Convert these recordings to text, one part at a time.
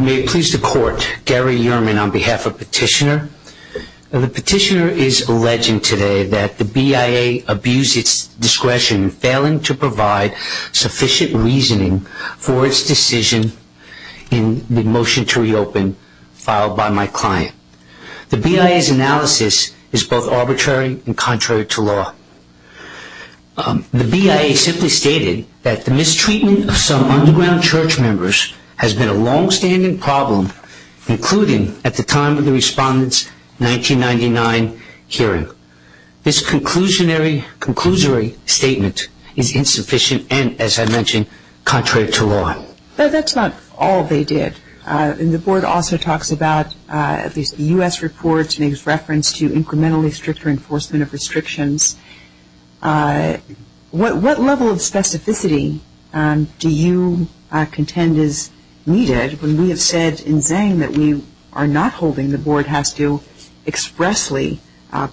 May it please the court, Gary Yerman on behalf of Petitioner. The Petitioner is alleging today that the BIA abused its discretion in failing to provide sufficient reasoning for its decision in the motion to reopen filed by my client. The BIA's analysis is both arbitrary and contrary to law. The BIA simply stated that the mistreatment of some underground church members has been a long-standing problem, including at the time of the respondent's 1999 hearing. This conclusionary, conclusory statement is insufficient and as I mentioned contrary to law. But that's not all they did. The board also talks about these U.S. reports and makes reference to incrementally stricter enforcement of restrictions. What level of specificity do you contend is needed when we have said in Zhang that we are not holding the board has to expressly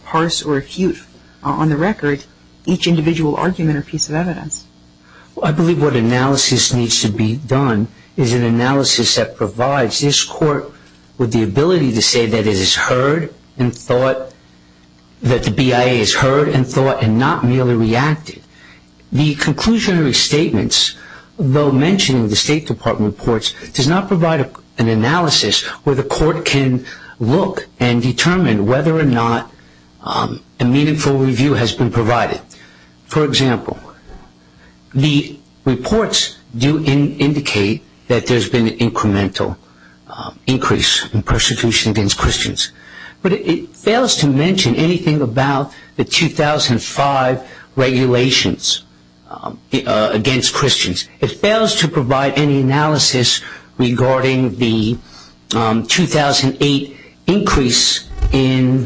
parse or refute on the record each individual argument or piece of evidence? I believe what analysis needs to be done is an analysis that provides this court with but that the BIA has heard and thought and not merely reacted. The conclusionary statements, though mentioning the State Department reports, does not provide an analysis where the court can look and determine whether or not a meaningful review has been provided. For example, the reports do indicate that there's been an incremental increase in persecution against Christians. But it fails to mention anything about the 2005 regulations against Christians. It fails to provide any analysis regarding the 2008 increase in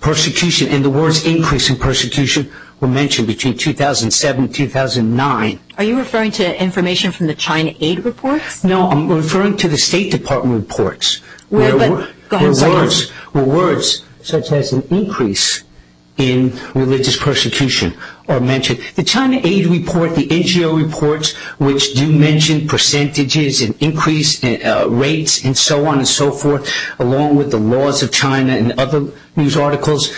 persecution and the words increase in persecution were mentioned between 2007 and 2009. Are you referring to information from the China Aid reports? No, I'm referring to the State Department reports. Well, but go ahead and say it. Where words such as an increase in religious persecution are mentioned. The China Aid report, the NGO reports, which do mention percentages and increase rates and so on and so forth, along with the laws of China and other news articles,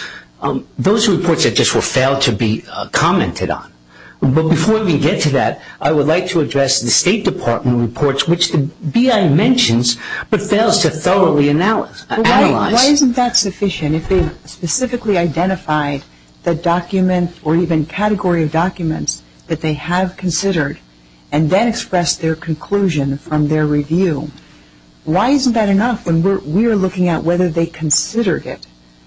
those are reports that just will fail to be commented on. But before we get to that, I would like to address the State Department reports, which the BI mentions, but fails to thoroughly analyze. Why isn't that sufficient? If they specifically identified the document or even category of documents that they have considered and then expressed their conclusion from their review, why isn't that enough when we're looking at whether they considered it?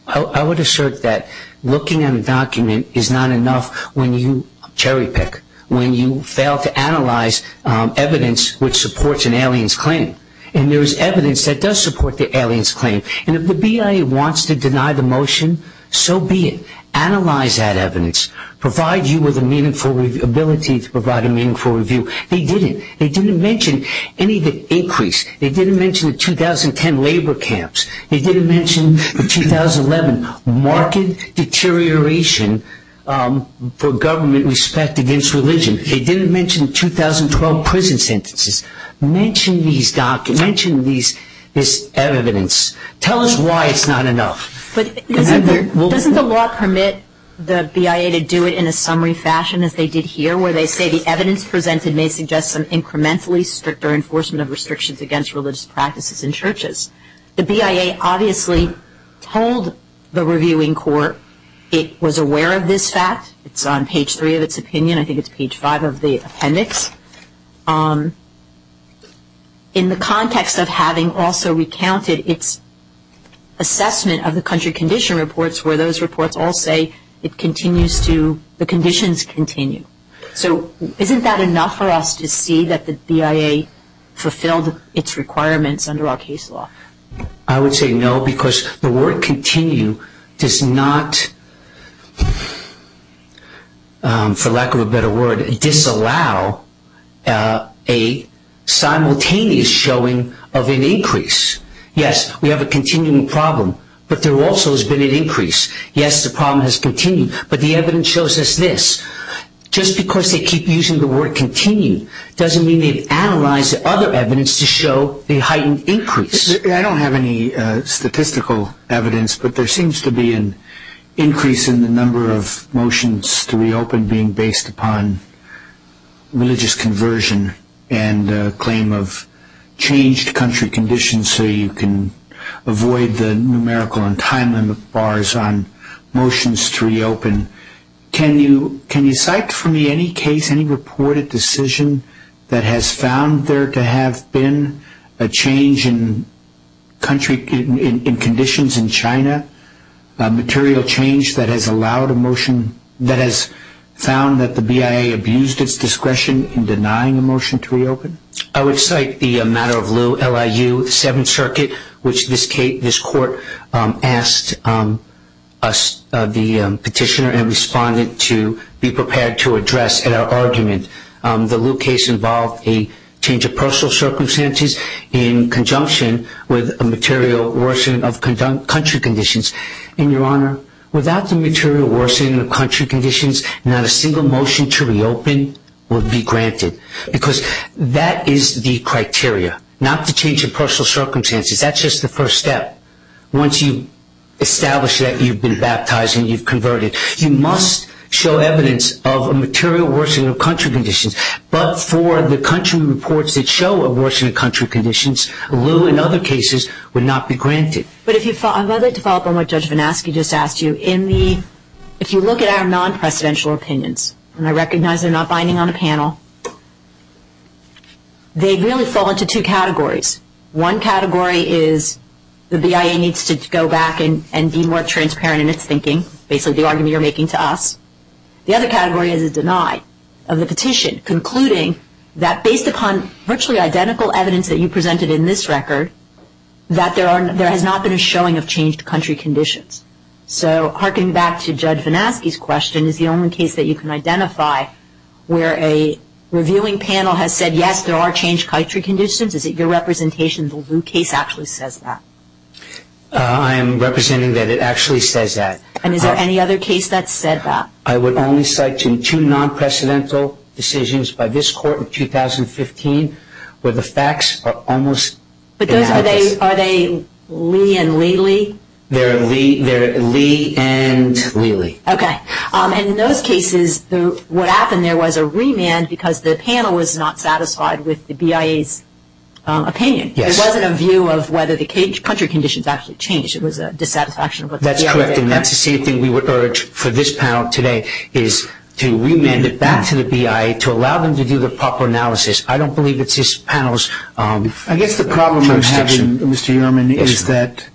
I would assert that looking at a document is not enough when you cherry pick, when you an alien's claim. And there is evidence that does support the alien's claim. And if the BI wants to deny the motion, so be it. Analyze that evidence. Provide you with the meaningful ability to provide a meaningful review. They didn't. They didn't mention any of the increase. They didn't mention the 2010 labor camps. They didn't mention the 2011 marked deterioration for government respect against religion. They didn't mention the 2012 prison sentences. Mention these documents. Mention this evidence. Tell us why it's not enough. But doesn't the law permit the BIA to do it in a summary fashion as they did here, where they say the evidence presented may suggest some incrementally stricter enforcement of restrictions against religious practices in churches? The BIA obviously told the reviewing court it was aware of this fact. It's on page 3 of its opinion. I think it's page 5 of the appendix. In the context of having also recounted its assessment of the country condition reports where those reports all say it continues to, the conditions continue. So isn't that enough for us to see that the BIA fulfilled its requirements under our case law? I would say no because the word continue does not, for lack of a better word, disallow a simultaneous showing of an increase. Yes, we have a continuing problem, but there also has been an increase. Yes, the problem has continued, but the evidence shows us this. Just because they keep using the word continue doesn't mean they've analyzed the other evidence to show the heightened increase. I don't have any statistical evidence, but there seems to be an increase in the number of motions to reopen being based upon religious conversion and claim of changed country conditions so you can avoid the numerical and time limit bars on motions to reopen. Can you cite for me any case, any reported decision that has found there to have been a change in conditions in China, a material change that has allowed a motion, that has found that the BIA abused its discretion in denying a motion to reopen? I would cite the matter of lieu, LIU 7th Circuit, which this court asked us, the petitioner and respondent, to be prepared to address in our argument. The lieu case involved a change of personal circumstances in conjunction with a material worsening of country conditions. And Your Honor, without the material worsening of country conditions, not a single motion to reopen would be granted because that is the criteria, not the change of personal circumstances. That's just the first step. Once you establish that you've been baptized and you've converted, you must show evidence of a material worsening of country conditions. But for the country reports that show a worsening of country conditions, a lieu in other cases would not be granted. But if you follow up on what Judge VanAskey just asked you, if you look at our non-presidential opinions, and I recognize they're not binding on a panel, they really fall into two categories. One category is the BIA needs to go back and be more transparent in its thinking, basically the argument you're making to us. The other category is a deny of the petition, concluding that based upon virtually identical evidence that you presented in this record, that there has not been a showing of changed country conditions. So harking back to Judge VanAskey's question is the only case that you can identify where a reviewing panel has said, yes, there are changed country conditions. Is it your representation that the lieu case actually says that? I am representing that it actually says that. And is there any other case that said that? I would only cite two non-presidential decisions by this court in 2015 where the facts are almost... But those are they, are they Lee and Lely? They're Lee and Lely. Okay. And in those cases, what happened there was a remand because the panel was not satisfied with the BIA's opinion. Yes. It wasn't a view of whether the country conditions actually changed. It was a dissatisfaction of what the BIA said. That's correct. And that's the same thing we would urge for this panel today is to remand it back to the BIA to allow them to do the proper analysis. I don't believe it's this panel's jurisdiction. I guess the problem I'm having, Mr. Yearman, is that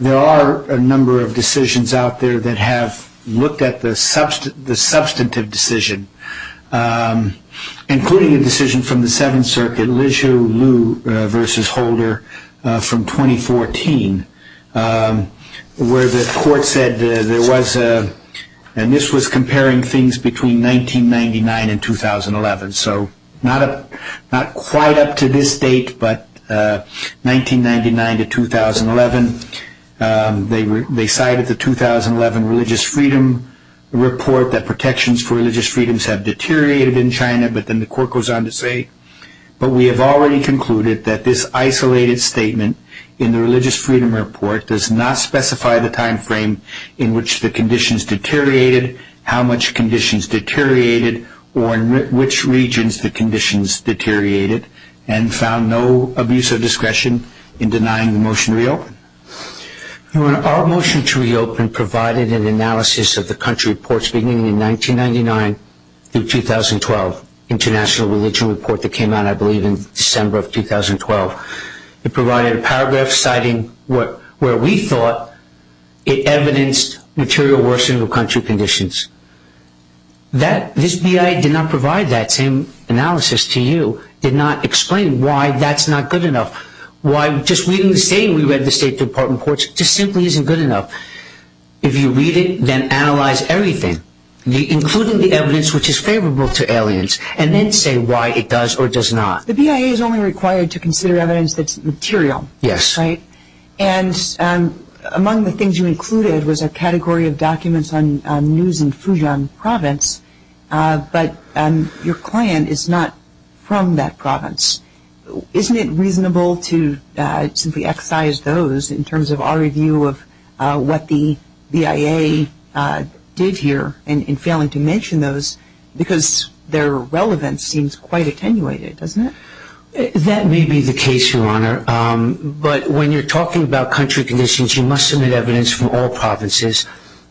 there are a number of decisions out there that have looked at the substantive decision, including a decision from the seventh circuit, Lijiu Liu versus Holder from 2014, where the court said there was a... And this was comparing things between 1999 and 2011. So not quite up to this date, but 1999 to 2011, they cited the 2011 religious freedom report that protections for religious freedoms have deteriorated in China. But then the court goes on to say, but we have already concluded that this isolated statement in the religious freedom report does not specify the timeframe in which the conditions deteriorated, how much conditions deteriorated, or in which regions the conditions deteriorated, and found no abuse of discretion in denying the motion to reopen. Our motion to reopen provided an analysis of the country reports beginning in 1999 through 2012, international religion report that came out, I believe, in December of 2012. It provided a paragraph citing where we thought it evidenced material worsening of country conditions. This BIA did not provide that same analysis to you, did not explain why that's not good enough, why just reading the same we read in the State Department reports just simply isn't good enough. If you read it, then analyze everything, including the evidence which is favorable to aliens, and then say why it does or does not. The BIA is only required to consider evidence that's material. Yes. Right? And among the things you included was a category of documents on news in Fujian province, but your client is not from that province. Isn't it reasonable to simply excise those in terms of our review of what the BIA did here in failing to mention those, because their relevance seems quite attenuated, doesn't it? That may be the case, Your Honor. But when you're talking about country conditions, you must submit evidence from all provinces.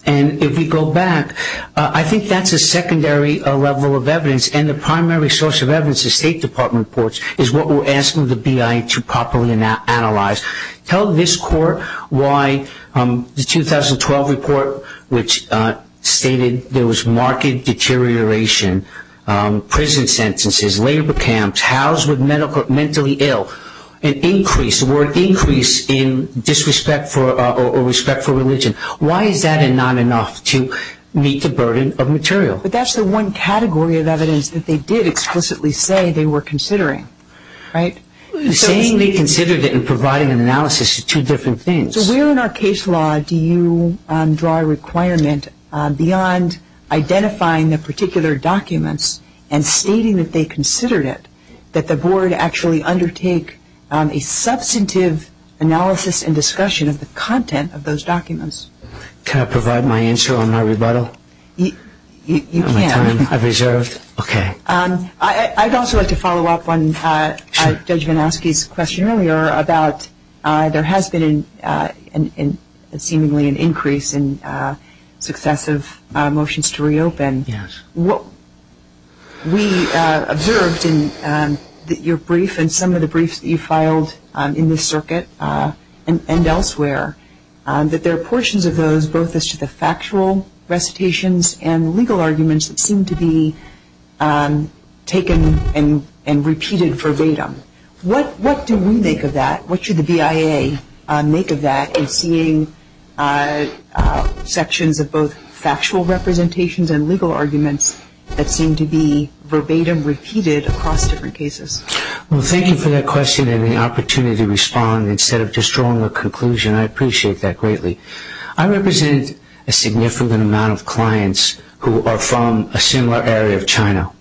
And if we go back, I think that's a secondary level of evidence, and the primary source of evidence in the State Department reports is what we're asking the BIA to properly analyze. Tell this Court why the 2012 report, which stated there was marked deterioration, prison sentences, labor camps, housed with mentally ill, an increase, the word increase, in disrespect or respect for religion. Why is that not enough to meet the burden of material? But that's the one category of evidence that they did explicitly say they were considering. Right? Saying they considered it and providing an analysis are two different things. So where in our case law do you draw a requirement beyond identifying the particular documents and stating that they considered it, that the Board actually undertake a substantive analysis and discussion of the content of those documents? Can I provide my answer on my rebuttal? You can. I've reserved. Okay. I'd also like to follow up on Judge Vinowski's question earlier about there has been a seemingly an increase in successive motions to reopen. Yes. We observed in your brief and some of the briefs that you filed in this circuit and elsewhere that there are portions of those both as to the factual recitations and legal arguments that seem to be taken and repeated verbatim. What do we make of that? What should the BIA make of that in seeing sections of both factual representations and legal arguments that seem to be verbatim repeated across different cases? Well, thank you for that question and the opportunity to respond instead of just drawing a conclusion. I appreciate that greatly. I represent a significant amount of clients who are from a similar area of China.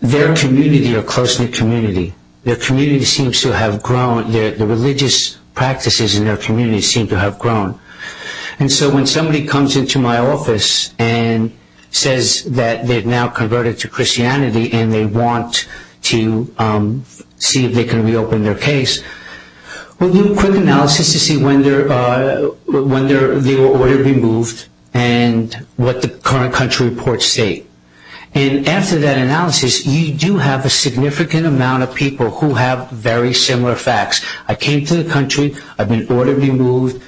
Their community are close-knit community. Their community seems to have grown. The religious practices in their community seem to have grown. And so when somebody comes into my office and says that they've now converted to Christianity and they want to see if they can reopen their case, we'll do a quick analysis to see when they were ordered removed and what the current country reports state. And after that analysis, you do have a significant amount of people who have very similar facts. I came to the country. I've been ordered removed.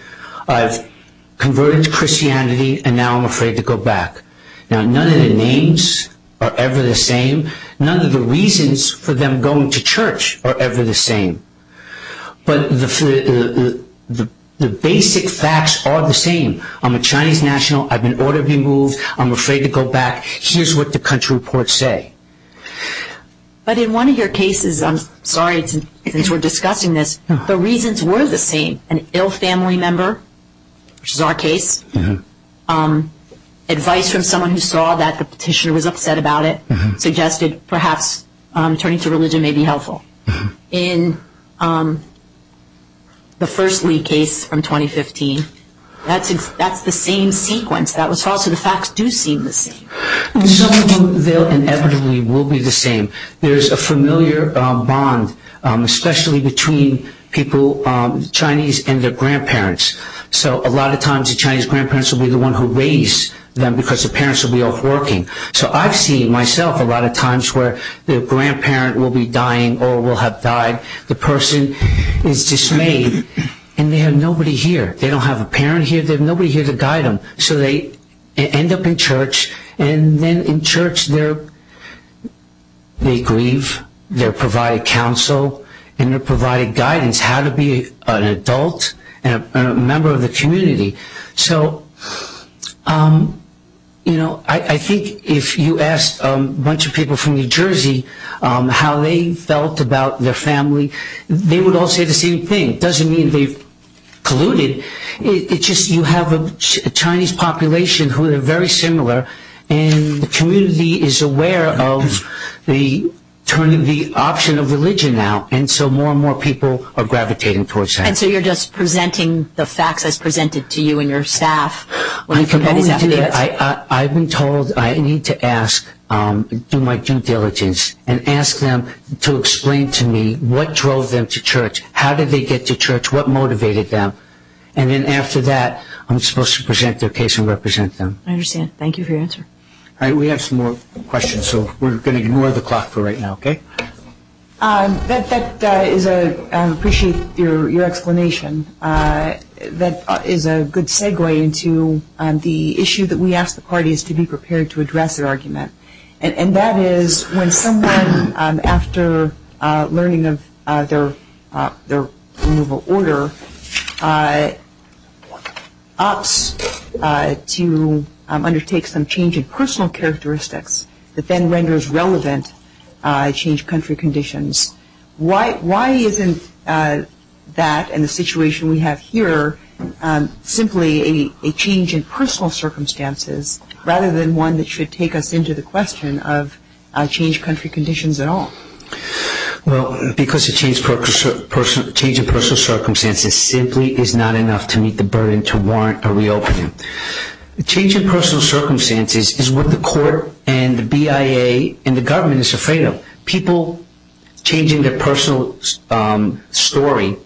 I've converted to Christianity and now I'm afraid to go back. Now, none of the names are ever the same. None of the reasons for them going to church are ever the same. But the basic facts are the same. I'm a Chinese national. I've been ordered removed. I'm afraid to go back. Here's what the country reports say. But in one of your cases, I'm sorry since we're discussing this, the reasons were the same. An ill family member, which is our case, advice from someone who saw that the petitioner was upset about it, suggested perhaps turning to religion may be helpful. In the first Lee case from 2015, that's the same sequence. That was false. So the facts do seem the same. Some of them, they'll inevitably will be the same. There's a familiar bond, especially between people, Chinese and their grandparents. So a lot of times the Chinese grandparents will be the one who raise them because the parents will be off working. So I've seen myself a lot of times where the grandparent will be dying or will have died. The person is dismayed and they have nobody here. They don't have a parent here. They have nobody here to guide them. So they end up in church and then in church they grieve. They're provided counsel and they're provided guidance how to be an adult and a member of the community. So I think if you ask a bunch of people from New Jersey how they felt about their family, they would all say the same thing. It doesn't mean they've colluded. It's just you have a Chinese population who are very similar and the community is aware of the turning the option of religion out and so more and more people are gravitating towards that. And so you're just presenting the facts as presented to you and your staff. I've been told I need to ask, do my due diligence and ask them to explain to me what drove them to church. How did they get to church? What motivated them? And then after that I'm supposed to present their case and represent them. I understand. Thank you for your answer. All right. We have some more questions. So we're going to ignore the clock for right now, okay? I appreciate your explanation. That is a good segue into the issue that we ask the parties to be prepared to address their argument. And that is when someone, after learning of their removal order, opts to undertake some change in personal characteristics that then renders relevant change country conditions, why isn't that and the situation we have here simply a change in personal circumstances rather than one that should take us into the question of change country conditions at all? Well, because a change in personal circumstances simply is not enough to meet the burden to warrant a reopening. A change in personal circumstances is what the court and the BIA and the government is afraid of. People changing their personal story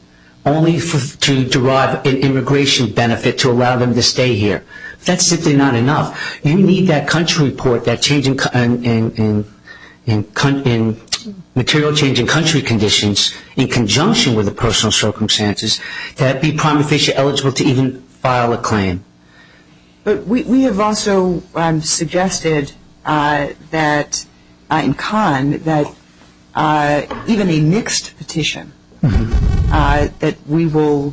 only to derive an immigration benefit to allow them to stay here. That's simply not enough. You need that country report, that change in material change in country conditions in conjunction with the personal circumstances to be prima facie eligible to even file a claim. But we have also suggested that in Kahn that even a mixed petition that we will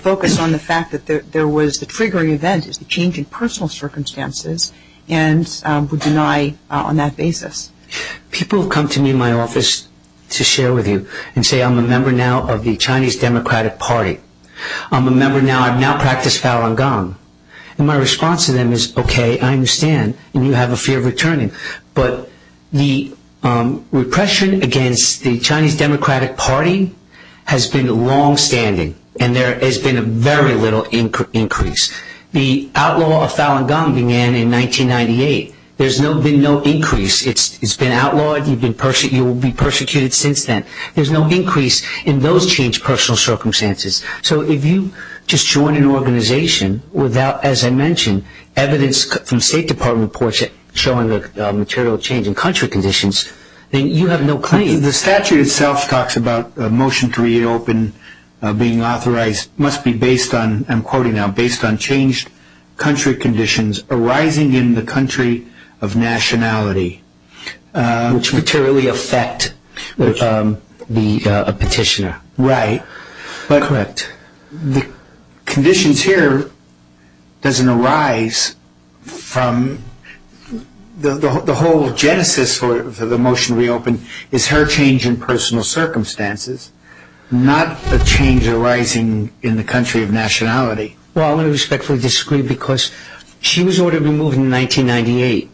focus on the fact that there was a triggering event, the change in personal circumstances, and would deny on that basis. People come to me in my office to share with you and say, I'm a member now of the Chinese Democratic Party. I'm a member now. I've now practiced Falun Gong. And my response to them is, okay, I understand, and you have a fear of returning. But the repression against the Chinese Democratic Party has been longstanding and there has been a very little increase. The outlaw of Falun Gong began in 1998. There's been no increase. It's been outlawed. You will be persecuted since then. There's no increase in those changed personal circumstances. So if you just join an organization without, as I mentioned, evidence from State Department reports showing the material change in country conditions, then you have no claim. The statute itself talks about a motion to reopen being authorized must be based on, I'm quoting now, based on changed country conditions arising in the country of nationality. Which materially affect the petitioner. Right. Correct. The conditions here doesn't arise from the whole genesis for the motion to reopen. It's her change in personal circumstances, not a change arising in the country of nationality. Well, I respectfully disagree because she was ordered to be moved in 1998.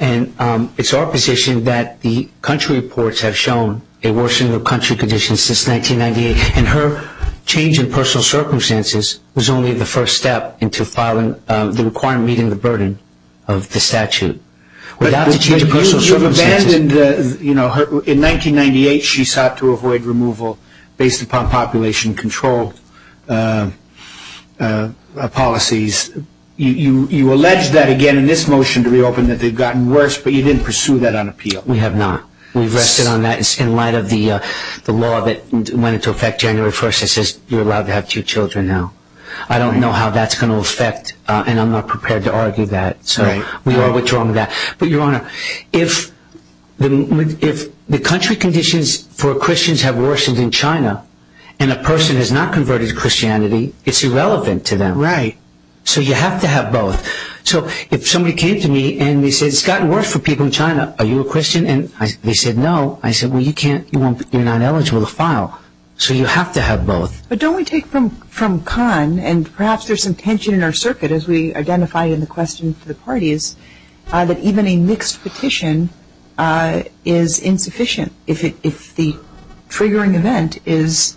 And it's our position that the country reports have shown a worsening of country conditions since 1998. And her change in personal circumstances was only the first step into filing the required reading of the burden of the statute. But you've abandoned, you know, in 1998 she sought to avoid removal based upon population control policies. You allege that again in this motion to reopen that they've gotten worse, but you didn't pursue that on appeal. We have not. We've rested on that in light of the law that went into effect January 1st that says you're allowed to have two children now. I don't know how that's going to affect, and I'm not prepared to argue that. So we are withdrawing that. But Your Honor, if the country conditions for Christians have worsened in China and a person has not converted to Christianity, it's irrelevant to them. Right. So you have to have both. Are you a Christian? And they said no. I said, well, you can't, you're not eligible to file. So you have to have both. But don't we take from Kahn, and perhaps there's some tension in our circuit as we identify in the question to the parties, that even a mixed petition is insufficient if the triggering event is,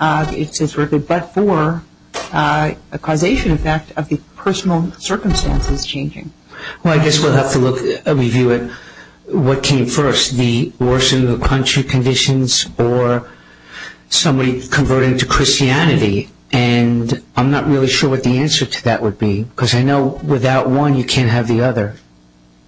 it's as riveted but for a causation effect of the personal circumstances changing. Well, I guess we'll have to review it. What came first, the worsening of country conditions or somebody converting to Christianity? And I'm not really sure what the answer to that would be because I know without one, you can't have the other.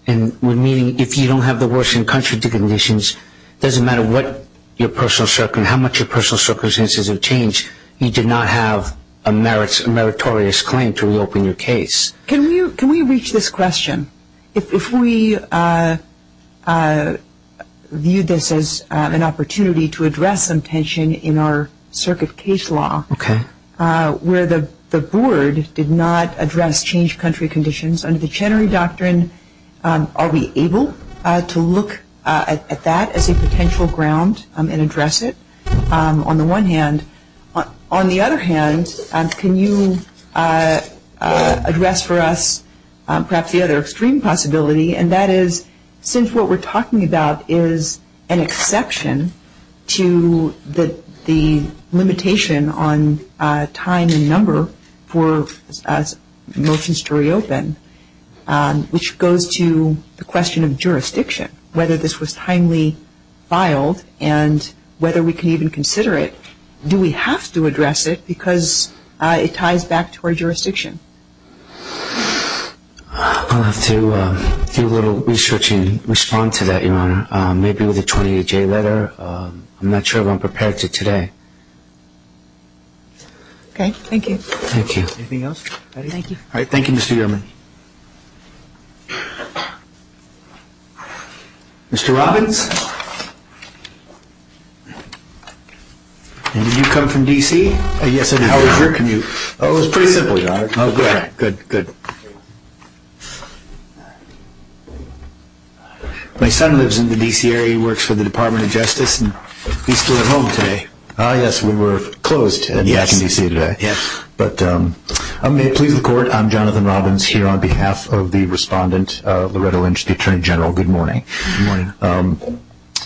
And meaning if you don't have the worsening of country conditions, it doesn't matter what your personal circumstances, how much your personal circumstances have changed, you do not have a meritorious claim to reopen your case. Can we reach this question? If we view this as an opportunity to address some tension in our circuit case law where the board did not address changed country conditions under the Chenery Doctrine, are we able to look at that as a potential ground and address it on the one hand? On the other hand, can you address for us perhaps the other extreme possibility and that is since what we're talking about is an exception to the limitation on time and number for motions to reopen, which goes to the question of jurisdiction, whether this was timely filed and whether we can even consider it. Do we have to address it because it ties back to our jurisdiction? I'll have to do a little research and respond to that, Your Honor. Maybe with a 28-J letter. I'm not sure if I'm prepared to today. Okay. Thank you. Thank you. Anything else? Thank you. All right. Thank you, Mr. Yellman. Mr. Robbins? Did you come from D.C.? Yes, I did. How was your commute? It was pretty simple, Your Honor. Good. My son lives in the D.C. area. He works for the Department of Justice. He's still at home today. Yes, we were closed in D.C. today. May it please the Court, I'm Jonathan Robbins, here on behalf of the Respondent, Loretta Lynch, the Attorney General. Good morning. Good morning.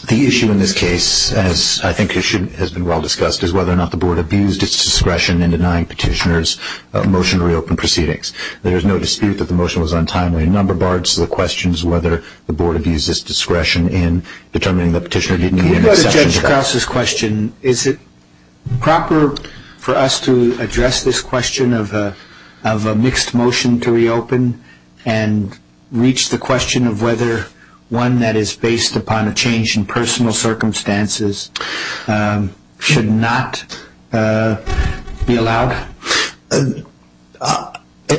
The issue in this case, as I think has been well discussed, is whether or not the Board abused its discretion in denying petitioners a motion to reopen proceedings. There is no dispute that the motion was untimely. A number of parts of the question is whether the Board abused its discretion in determining that the petitioner didn't need an exception to that. Can we go to Judge Krause's question? Is it proper for us to address this question of a mixed motion to reopen and reach the question of whether one that is based upon a change in personal circumstances should not be allowed?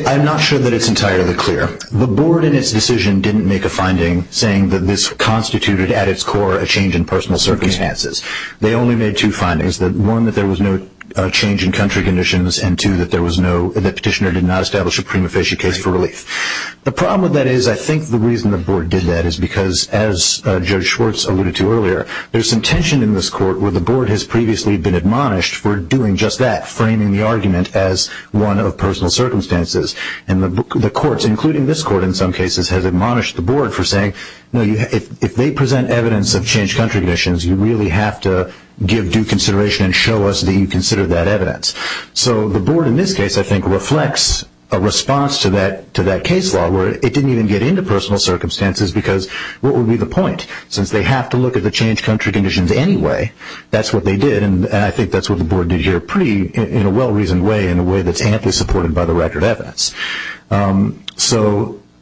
I'm not sure that it's entirely clear. The Board, in its decision, didn't make a finding saying that this constituted, at its core, a change in personal circumstances. They only made two findings. One, that there was no change in country conditions, and two, that the petitioner did not establish a prima facie case for relief. The problem with that is, I think the reason the Board did that is because, as Judge Schwartz alluded to earlier, there's some tension in this Court where the Board has previously been admonished for doing just that, framing the argument as one of personal circumstances. And the courts, including this Court in some cases, have admonished the Board for saying, if they present evidence of change in country conditions, you really have to give due consideration and show us that you consider that evidence. So the Board, in this case, I think, reflects a response to that case law where it didn't even get into personal circumstances because what would be the point? Since they have to look at the change in country conditions anyway, that's what they did, and I think that's what the Board did here pretty, in a well-reasoned way, in a way that's amply supported by the record evidence.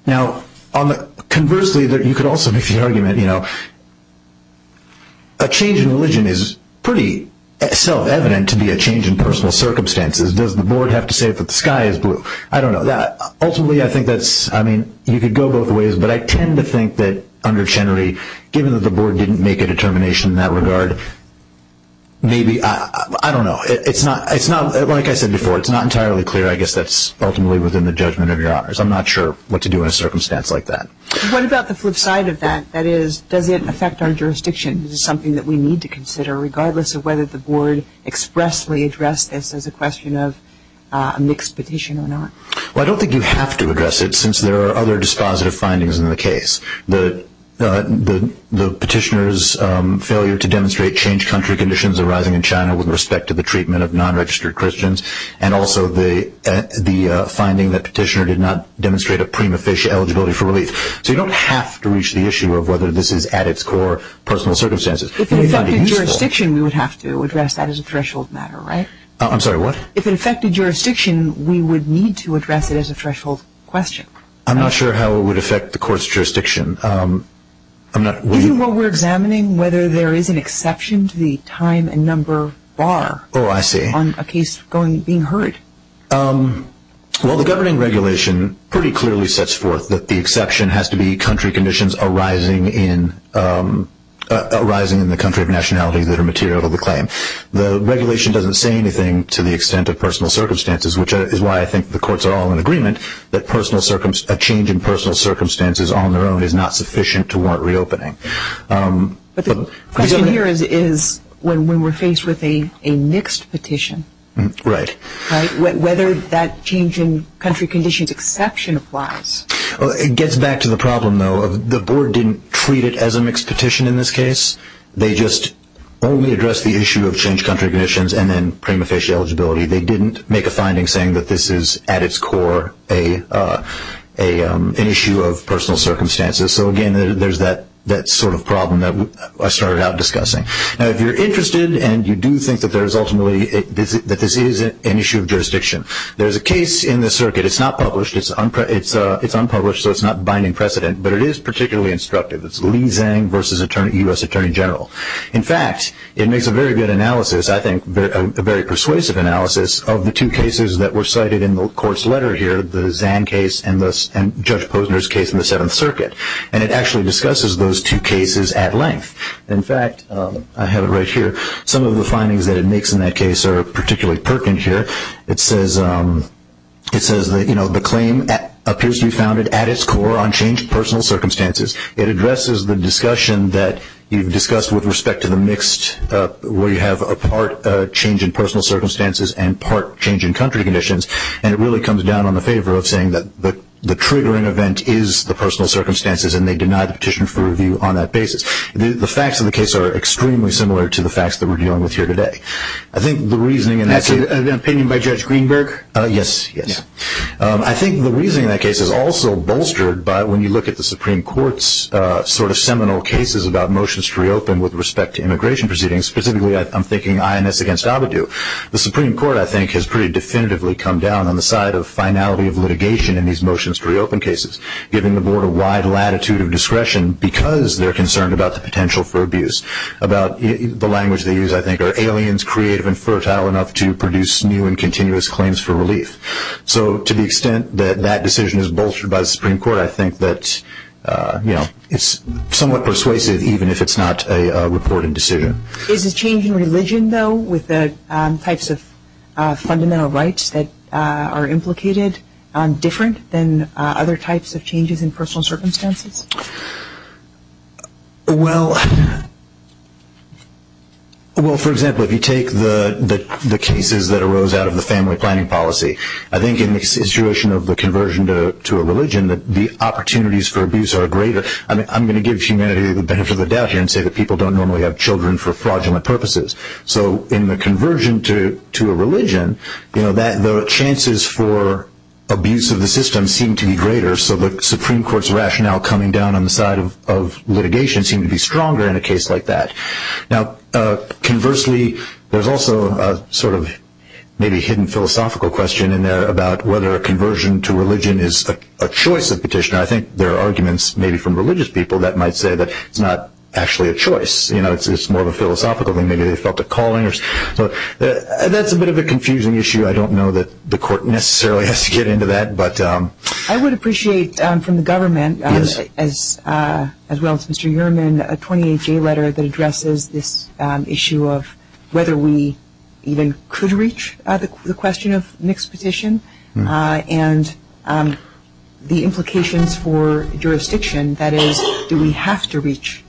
Now, conversely, you could also make the argument, you know, a change in religion is pretty self-evident to be a change in personal circumstances. Does the Board have to say that the sky is blue? I don't know. Ultimately, I think that's, I mean, you could go both ways, but I tend to think that under Chenery, given that the Board didn't make a determination in that regard, maybe, I don't know. It's not, like I said before, it's not entirely clear. I guess that's ultimately within the judgment of Your Honors. I'm not sure what to do in a circumstance like that. What about the flip side of that? That is, does it affect our jurisdiction? Is it something that we need to consider, regardless of whether the Board expressly addressed this as a question of a mixed petition or not? Well, I don't think you have to address it, since there are other dispositive findings in the case. The petitioner's failure to demonstrate changed country conditions arising in China with respect to the treatment of non-registered Christians, and also the finding that petitioner did not demonstrate a prima facie eligibility for relief. So you don't have to reach the issue of whether this is, at its core, personal circumstances. If it affected jurisdiction, we would have to address that as a threshold matter, right? I'm sorry, what? If it affected jurisdiction, we would need to address it as a threshold question. I'm not sure how it would affect the Court's jurisdiction. Given what we're examining, whether there is an exception to the time and number bar on a case being heard. Well, the governing regulation pretty clearly sets forth that the exception has to be country conditions arising in the country of nationality that are material to the claim. The regulation doesn't say anything to the extent of personal circumstances, which is why I think the Courts are all in agreement that a change in personal circumstances on their own is not sufficient to warrant reopening. But the question here is when we're faced with a mixed petition. Right. Whether that change in country conditions exception applies. It gets back to the problem, though. The Board didn't treat it as a mixed petition in this case. They just only addressed the issue of change country conditions and then prima facie eligibility. They didn't make a finding saying that this is, at its core, an issue of personal circumstances. So, again, there's that sort of problem that I started out discussing. Now, if you're interested and you do think that there is ultimately that this is an issue of jurisdiction, there's a case in the circuit. It's not published. It's unpublished, so it's not binding precedent, but it is particularly instructive. It's Lee Zhang versus U.S. Attorney General. In fact, it makes a very good analysis, I think a very persuasive analysis of the two cases that were cited in the Court's letter here, the Zhang case and Judge Posner's case in the Seventh Circuit. And it actually discusses those two cases at length. In fact, I have it right here. Some of the findings that it makes in that case are particularly pertinent here. It says, you know, the claim appears to be founded at its core on changed personal circumstances. It addresses the discussion that you've discussed with respect to the mixed, where you have a part change in personal circumstances and part change in country conditions. And it really comes down on the favor of saying that the triggering event is the personal circumstances and they deny the petition for review on that basis. The facts of the case are extremely similar to the facts that we're dealing with here today. I think the reasoning in that case... That's an opinion by Judge Greenberg? Yes, yes. I think the reasoning in that case is also bolstered by when you look at the Supreme Court's sort of seminal cases about motions to reopen with respect to immigration proceedings. Specifically, I'm thinking INS against Abadou. The Supreme Court, I think, has pretty definitively come down in these motions to reopen cases, giving the Board a wide latitude of discretion because they're concerned about the potential for abuse. About the language they use, I think, are aliens creative and fertile enough to produce new and continuous claims for relief. So to the extent that that decision is bolstered by the Supreme Court, I think that, you know, it's somewhat persuasive even if it's not a reported decision. Is the change in religion, though, with the types of fundamental rights that are implicated different than other types of changes in personal circumstances? Well... Well, for example, if you take the cases that arose out of the family planning policy, I think in the situation of the conversion to a religion, the opportunities for abuse are greater. I'm going to give humanity the benefit of the doubt here and say that people don't normally have children for fraudulent purposes. So in the conversion to a religion, the chances for abuse of the system seem to be greater, so the Supreme Court's rationale coming down on the side of litigation seem to be stronger in a case like that. Now, conversely, there's also a sort of maybe hidden philosophical question in there about whether a conversion to religion is a choice of petitioner. I think there are arguments, maybe from religious people, that might say that it's not actually a choice. You know, it's more of a philosophical thing. Maybe they felt a calling. That's a bit of a confusing issue. I don't know that the Court necessarily has to get into that. I would appreciate from the government as well as Mr. Uriman a 28-J letter that addresses this issue of whether we even could reach the question of mixed petition and the implications for jurisdiction. That is, do we have to reach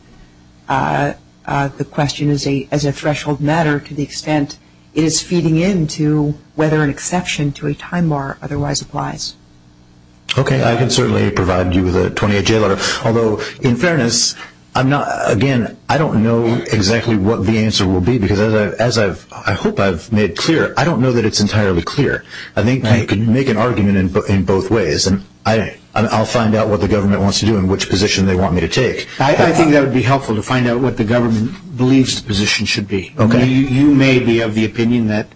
the question as a threshold matter to the extent it is feeding into whether an exception to a time bar otherwise applies? Okay, I can certainly provide you with a 28-J letter. Although, in fairness, I'm not, again, I don't know exactly what the answer will be because as I've, I hope I've made clear, I don't know that it's entirely clear. I think I can make an argument in both ways and I'll find out what the government wants to do and which position they want me to take. I think that would be helpful to find out what the government believes the position should be. You may be of the opinion that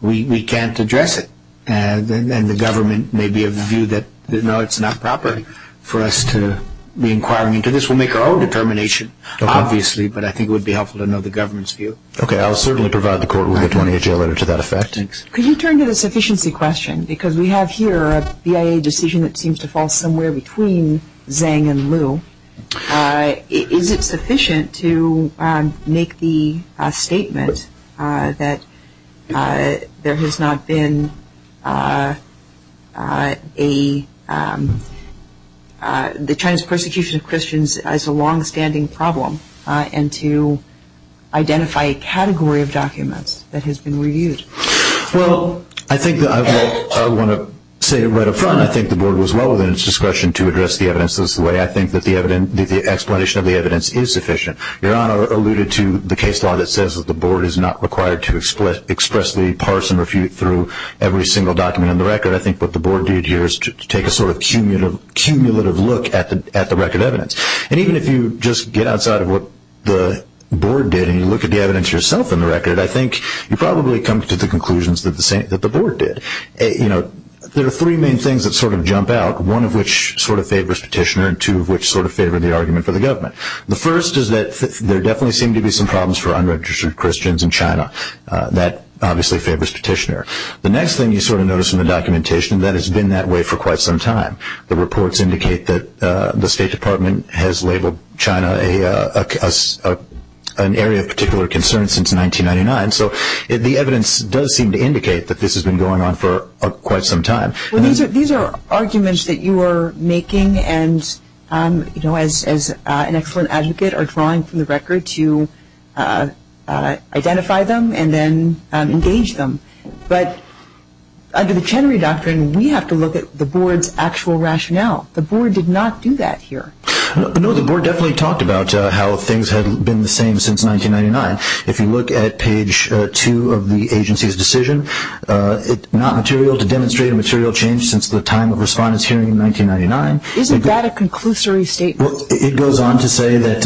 we can't address it and the government may be of the view that, no, it's not proper for us to be inquiring into this. We'll make our own determination obviously, but I think it would be helpful to know the government's view. Okay, I'll certainly provide the court with a 28-J letter to that effect. Could you turn to the sufficiency question? Because we have here a BIA decision that seems to fall somewhere between Zhang and Liu. Is it sufficient to make the statement that there has not been a a the Chinese persecution of Christians as a long-standing problem and to identify a category of documents that has been reviewed? Well, I think that I want to say right up front, I think the board was well within its discretion to address the evidence this way. I think that the explanation of the evidence is sufficient. Your Honor alluded to the case law that says that the board is not required to expressly parse and refute through every single document in the record. I think what the board did here is to take a sort of cumulative look at the record evidence. And even if you just get outside of what the board did and you look at the evidence yourself in the record, I think you probably come to the conclusions that the board did. There are three main things that sort of jump out. One of which sort of favors petitioner and two of which sort of favor the argument for the government. The first is that there definitely seem to be some problems for unregistered Christians in China. That obviously favors petitioner. The next thing you sort of notice in the documentation is that it's been that way for quite some time. The reports indicate that the State Department has labeled China an area of particular concern since 1999. The evidence does seem to indicate that this has been going on for quite some time. These are arguments that you are making and as an excellent advocate are drawing from the record to identify them and then engage them. But under the Chenery Doctrine, we have to look at the board's actual rationale. The board did not do that here. The board definitely talked about how things have been the same since 1999. If you look at page two of the agency's decision, it's not material to demonstrate a material change since the time of respondents hearing in 1999. Isn't that a conclusory statement? It goes on to say that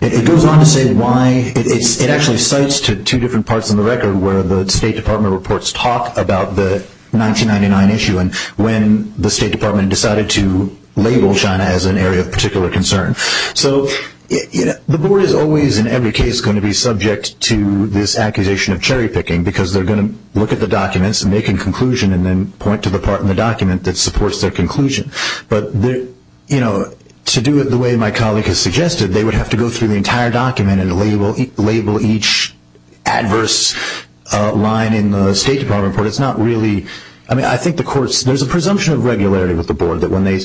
it goes on to say why it actually cites two different parts of the record where the State Department reports talk about the 1999 issue and when the State Department decided to label China as an area of particular concern. So the board is always in every case going to be subject to this accusation of cherry-picking because they're going to look at the documents and make a conclusion and then point to the part in the document that supports their conclusion. But to do it the way my colleague has suggested, they would have to go through the entire document and label each adverse line in the State Department report. It's not really I think the courts, there's a presumption of regularity with the board that when they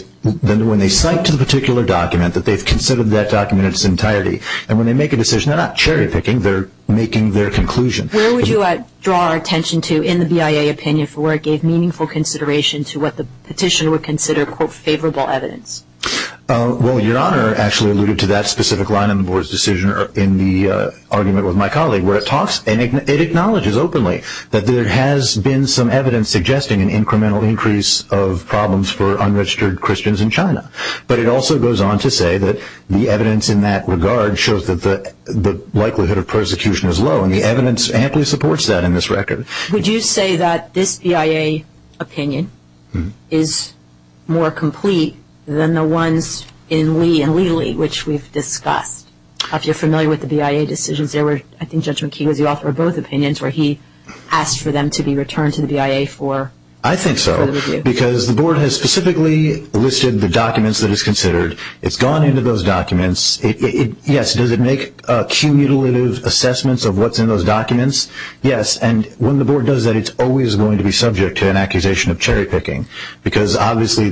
cite to the particular document that they've considered that document in its entirety and when they make a decision, they're not cherry-picking they're making their conclusion. Where would you draw our attention to in the BIA opinion for where it gave meaningful consideration to what the petitioner would consider quote favorable evidence? Well, Your Honor actually alluded to that specific line in the board's decision in the argument with my colleague where it talks and it acknowledges openly that there has been some evidence suggesting an incremental increase of problems for unregistered Christians in China. But it also goes on to say that the evidence in that regard shows that the likelihood of persecution is low and the evidence supports that in this record. Would you say that this BIA opinion is more complete than the ones in Lee and Lee-Lee which we've discussed? If you're familiar with the BIA decisions, there were, I think Judge McKee was the author of both opinions where he asked for them to be returned to the BIA for I think so, because the board has specifically listed the documents that it's considered. It's gone into those documents. Yes, does it make cumulative assessments of what's in those documents? Yes, and when the board does that, it's always going to be subject to an accusation of cherry picking because obviously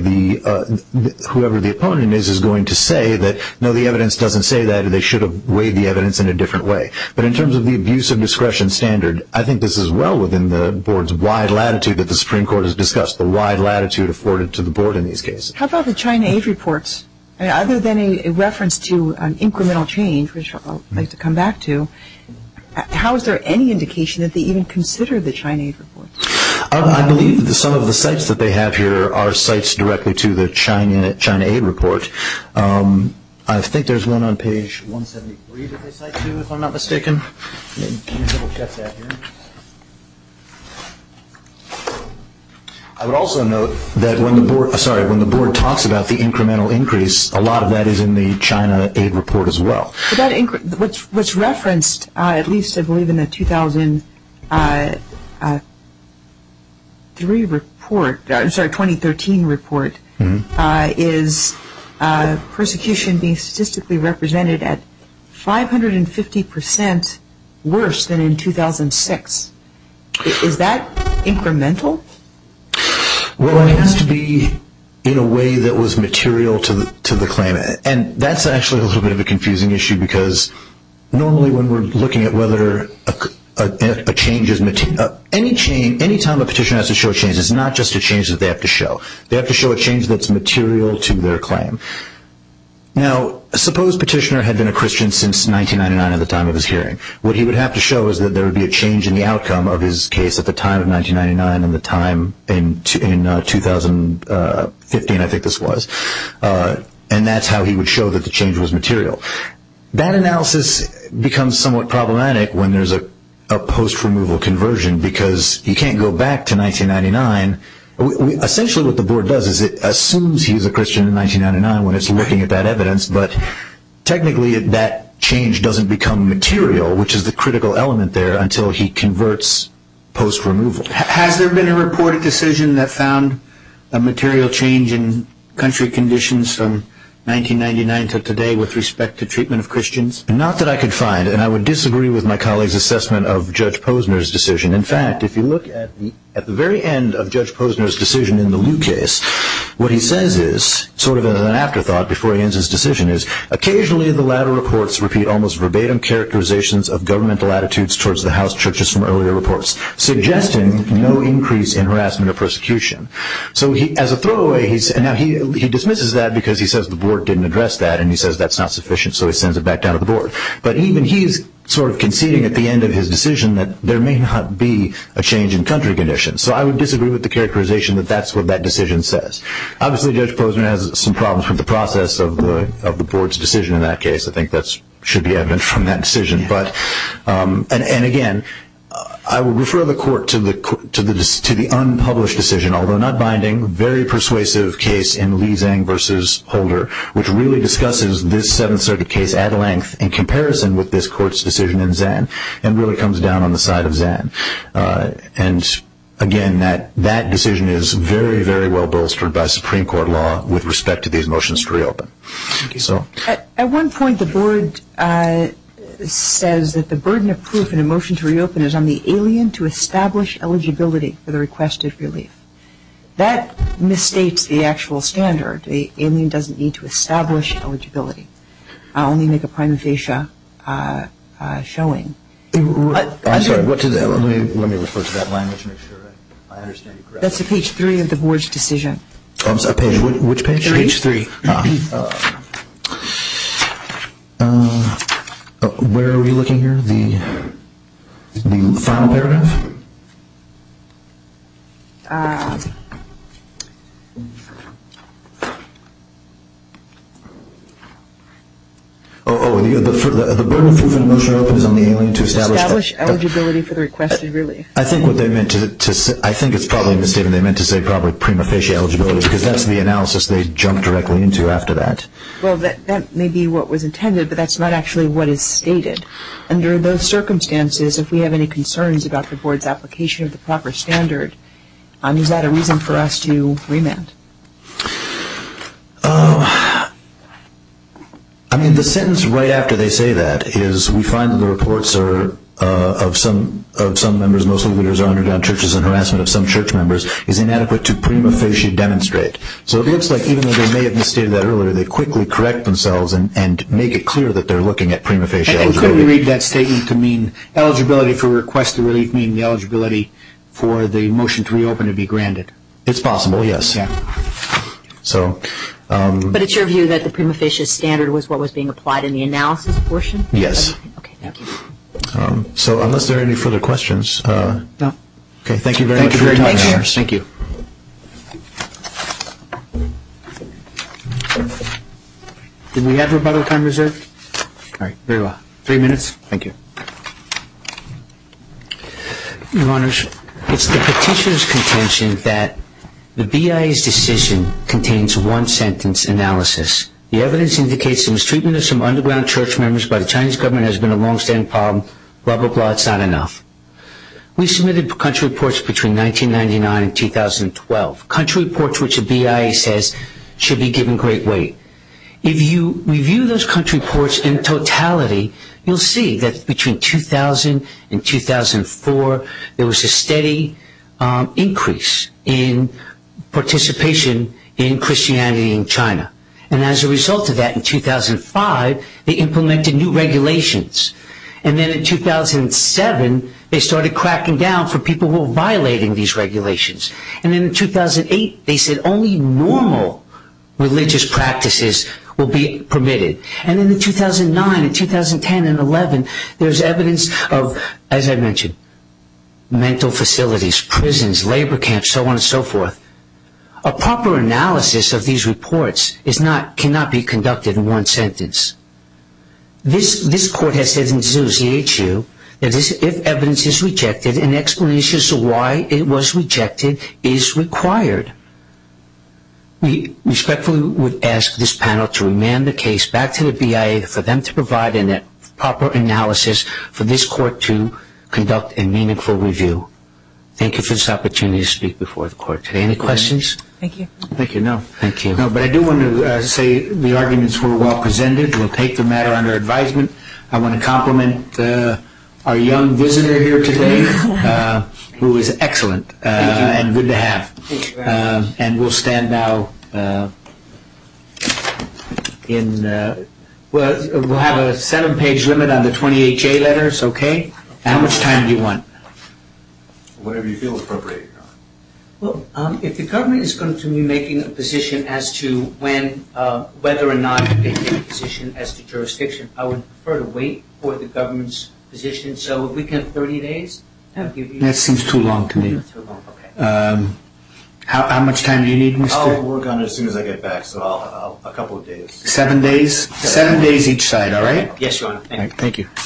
whoever the opponent is going to say that no, the evidence doesn't say that and they should have weighed the evidence in a different way. But in terms of the abuse of discretion standard, I think this is well within the board's wide latitude that the Supreme Court has discussed, the wide latitude afforded to the board in these cases. How about the China Aid reports? Other than a reference to an incremental change which I'd like to come back to, how is there any indication that they even consider the China Aid reports? I believe that some of the sites that they have here are sites directly to the China Aid report. I think there's one on page 173 that they cite to if I'm not mistaken. I would also note that when the board talks about the incremental increase, a lot of that is in the China Aid report as well. What's referenced at least I believe in the 2003 report I'm sorry, 2013 report is persecution being statistically represented at 550% worse than in 2006. Is that incremental? Well it has to be in a way that was material to the claim. That's actually a little bit of a confusing issue because normally when we're looking at whether a change is material any time a petitioner has to show a change it's not just a change that they have to show. They have to show a change that's material to their claim. Now suppose a petitioner had been a Christian since 1999 at the time of his hearing. What he would have to show is that there would be a change in the outcome of his case at the time of 1999 and the time in 2015 I think this was. And that's how he would show that the change was material. That analysis becomes somewhat problematic when there's a post-removal conversion because he can't go back to 1999. Essentially what the board does is it assumes he's a Christian in 1999 when it's looking at that evidence but technically that change doesn't become material which is the critical element there until he converts post-removal. Has there been a reported decision that found a material change in country conditions from 1999 to today with respect to treatment of Christians? Not that I could find and I would disagree with my colleague's assessment of Judge Posner's decision. In fact, if you look at the very end of Judge Posner's decision in the Lew case what he says is, sort of as an afterthought before he ends his decision is occasionally the latter reports repeat almost attitudes towards the house churches from earlier reports suggesting no increase in harassment or persecution. As a throwaway, he dismisses that because he says the board didn't address that and he says that's not sufficient so he sends it back down to the board. But even he's sort of conceding at the end of his decision that there may not be a change in country conditions. So I would disagree with the characterization that that's what that decision says. Obviously Judge Posner has some problems with the process of the board's decision in that case. I think that should be evident from that decision. And again, I would refer the court to the unpublished decision, although not binding very persuasive case in Lee-Zang v. Holder, which really discusses this Seventh Circuit case at length in comparison with this court's decision in Zan and really comes down on the side of Zan. Again, that decision is very, very well bolstered by Supreme Court law with respect to these motions to reopen. At one point the board says that the burden of proof in a motion to reopen is on the alien to establish eligibility for the requested relief. That misstates the actual standard. The alien doesn't need to establish eligibility. I'll only make a prime facia showing. I'm sorry, what is that? Let me refer to that language and make sure I understand you correctly. That's a page three of the board's decision. Which page? Page three. Where are we looking here? The final paragraph? Oh, the burden of proof in a motion to reopen is on the alien to establish eligibility for the requested relief. I think it's probably misstated. They meant to say probably prime facia eligibility, because that's the analysis they jumped directly into after that. That may be what was intended, but that's not actually what is stated. Under those circumstances, if we have any concerns about the board's application of the proper standard, is that a reason for us to remand? The sentence right after they say that is we find the reports of some members, mostly members, is inadequate to prima facie demonstrate. So it looks like even though they may have misstated that earlier, they quickly correct themselves and make it clear that they're looking at prima facie eligibility. Couldn't we read that statement to mean eligibility for requested relief meaning the eligibility for the motion to reopen to be granted? It's possible, yes. But it's your view that the prima facie standard was what was being applied in the analysis portion? Yes. So unless there are any further questions... No. Okay, thank you very much for your time. Thank you. Do we have rebuttal time reserved? All right, very well. Three minutes? Thank you. Your Honors, it's the petitioner's contention that the BIA's decision contains one sentence analysis. The evidence indicates the mistreatment of some underground church members by the Chinese government has been a long-standing problem. Blah, blah, blah. That's not enough. We submitted country reports between 1999 and 2012. Country reports which the BIA says should be given great weight. If you review those country reports in totality, you'll see that between 2000 and 2004 there was a steady increase in participation in Christianity in China. And as a result of that, in 2005 they implemented new regulations. And then in 2007 they started cracking down for people who were violating these regulations. And then in 2008 they said only normal religious practices will be permitted. And then in 2009 and 2010 and 11 there's evidence of, as I mentioned, mental facilities, prisons, labor camps, so on and so forth. A proper analysis of these reports cannot be conducted in one sentence. This court has said in the CHU that if evidence is rejected, an explanation as to why it was rejected is required. We respectfully would ask this panel to remand the case back to the BIA for them to provide a proper analysis for this court to conduct a meaningful review. Thank you for this opportunity to speak before the court today. Any questions? Thank you. No, but I do want to say the arguments were well presented. We'll take the matter under advisement. I want to compliment our young visitor here today who is excellent and good to have. And we'll stand now in we'll have a seven page limit on the 28 J letters. Okay? How much time do you want? Whatever you feel appropriate. If the government is going to be making a position as to whether or not to make a position as to jurisdiction, I would prefer to wait for the government's position. So, if we can have 30 days? That seems too long to me. How much time do you need? I'll work on it as soon as I get back. So, a couple of days. Seven days each side, all right? Yes, Your Honor. Thank you.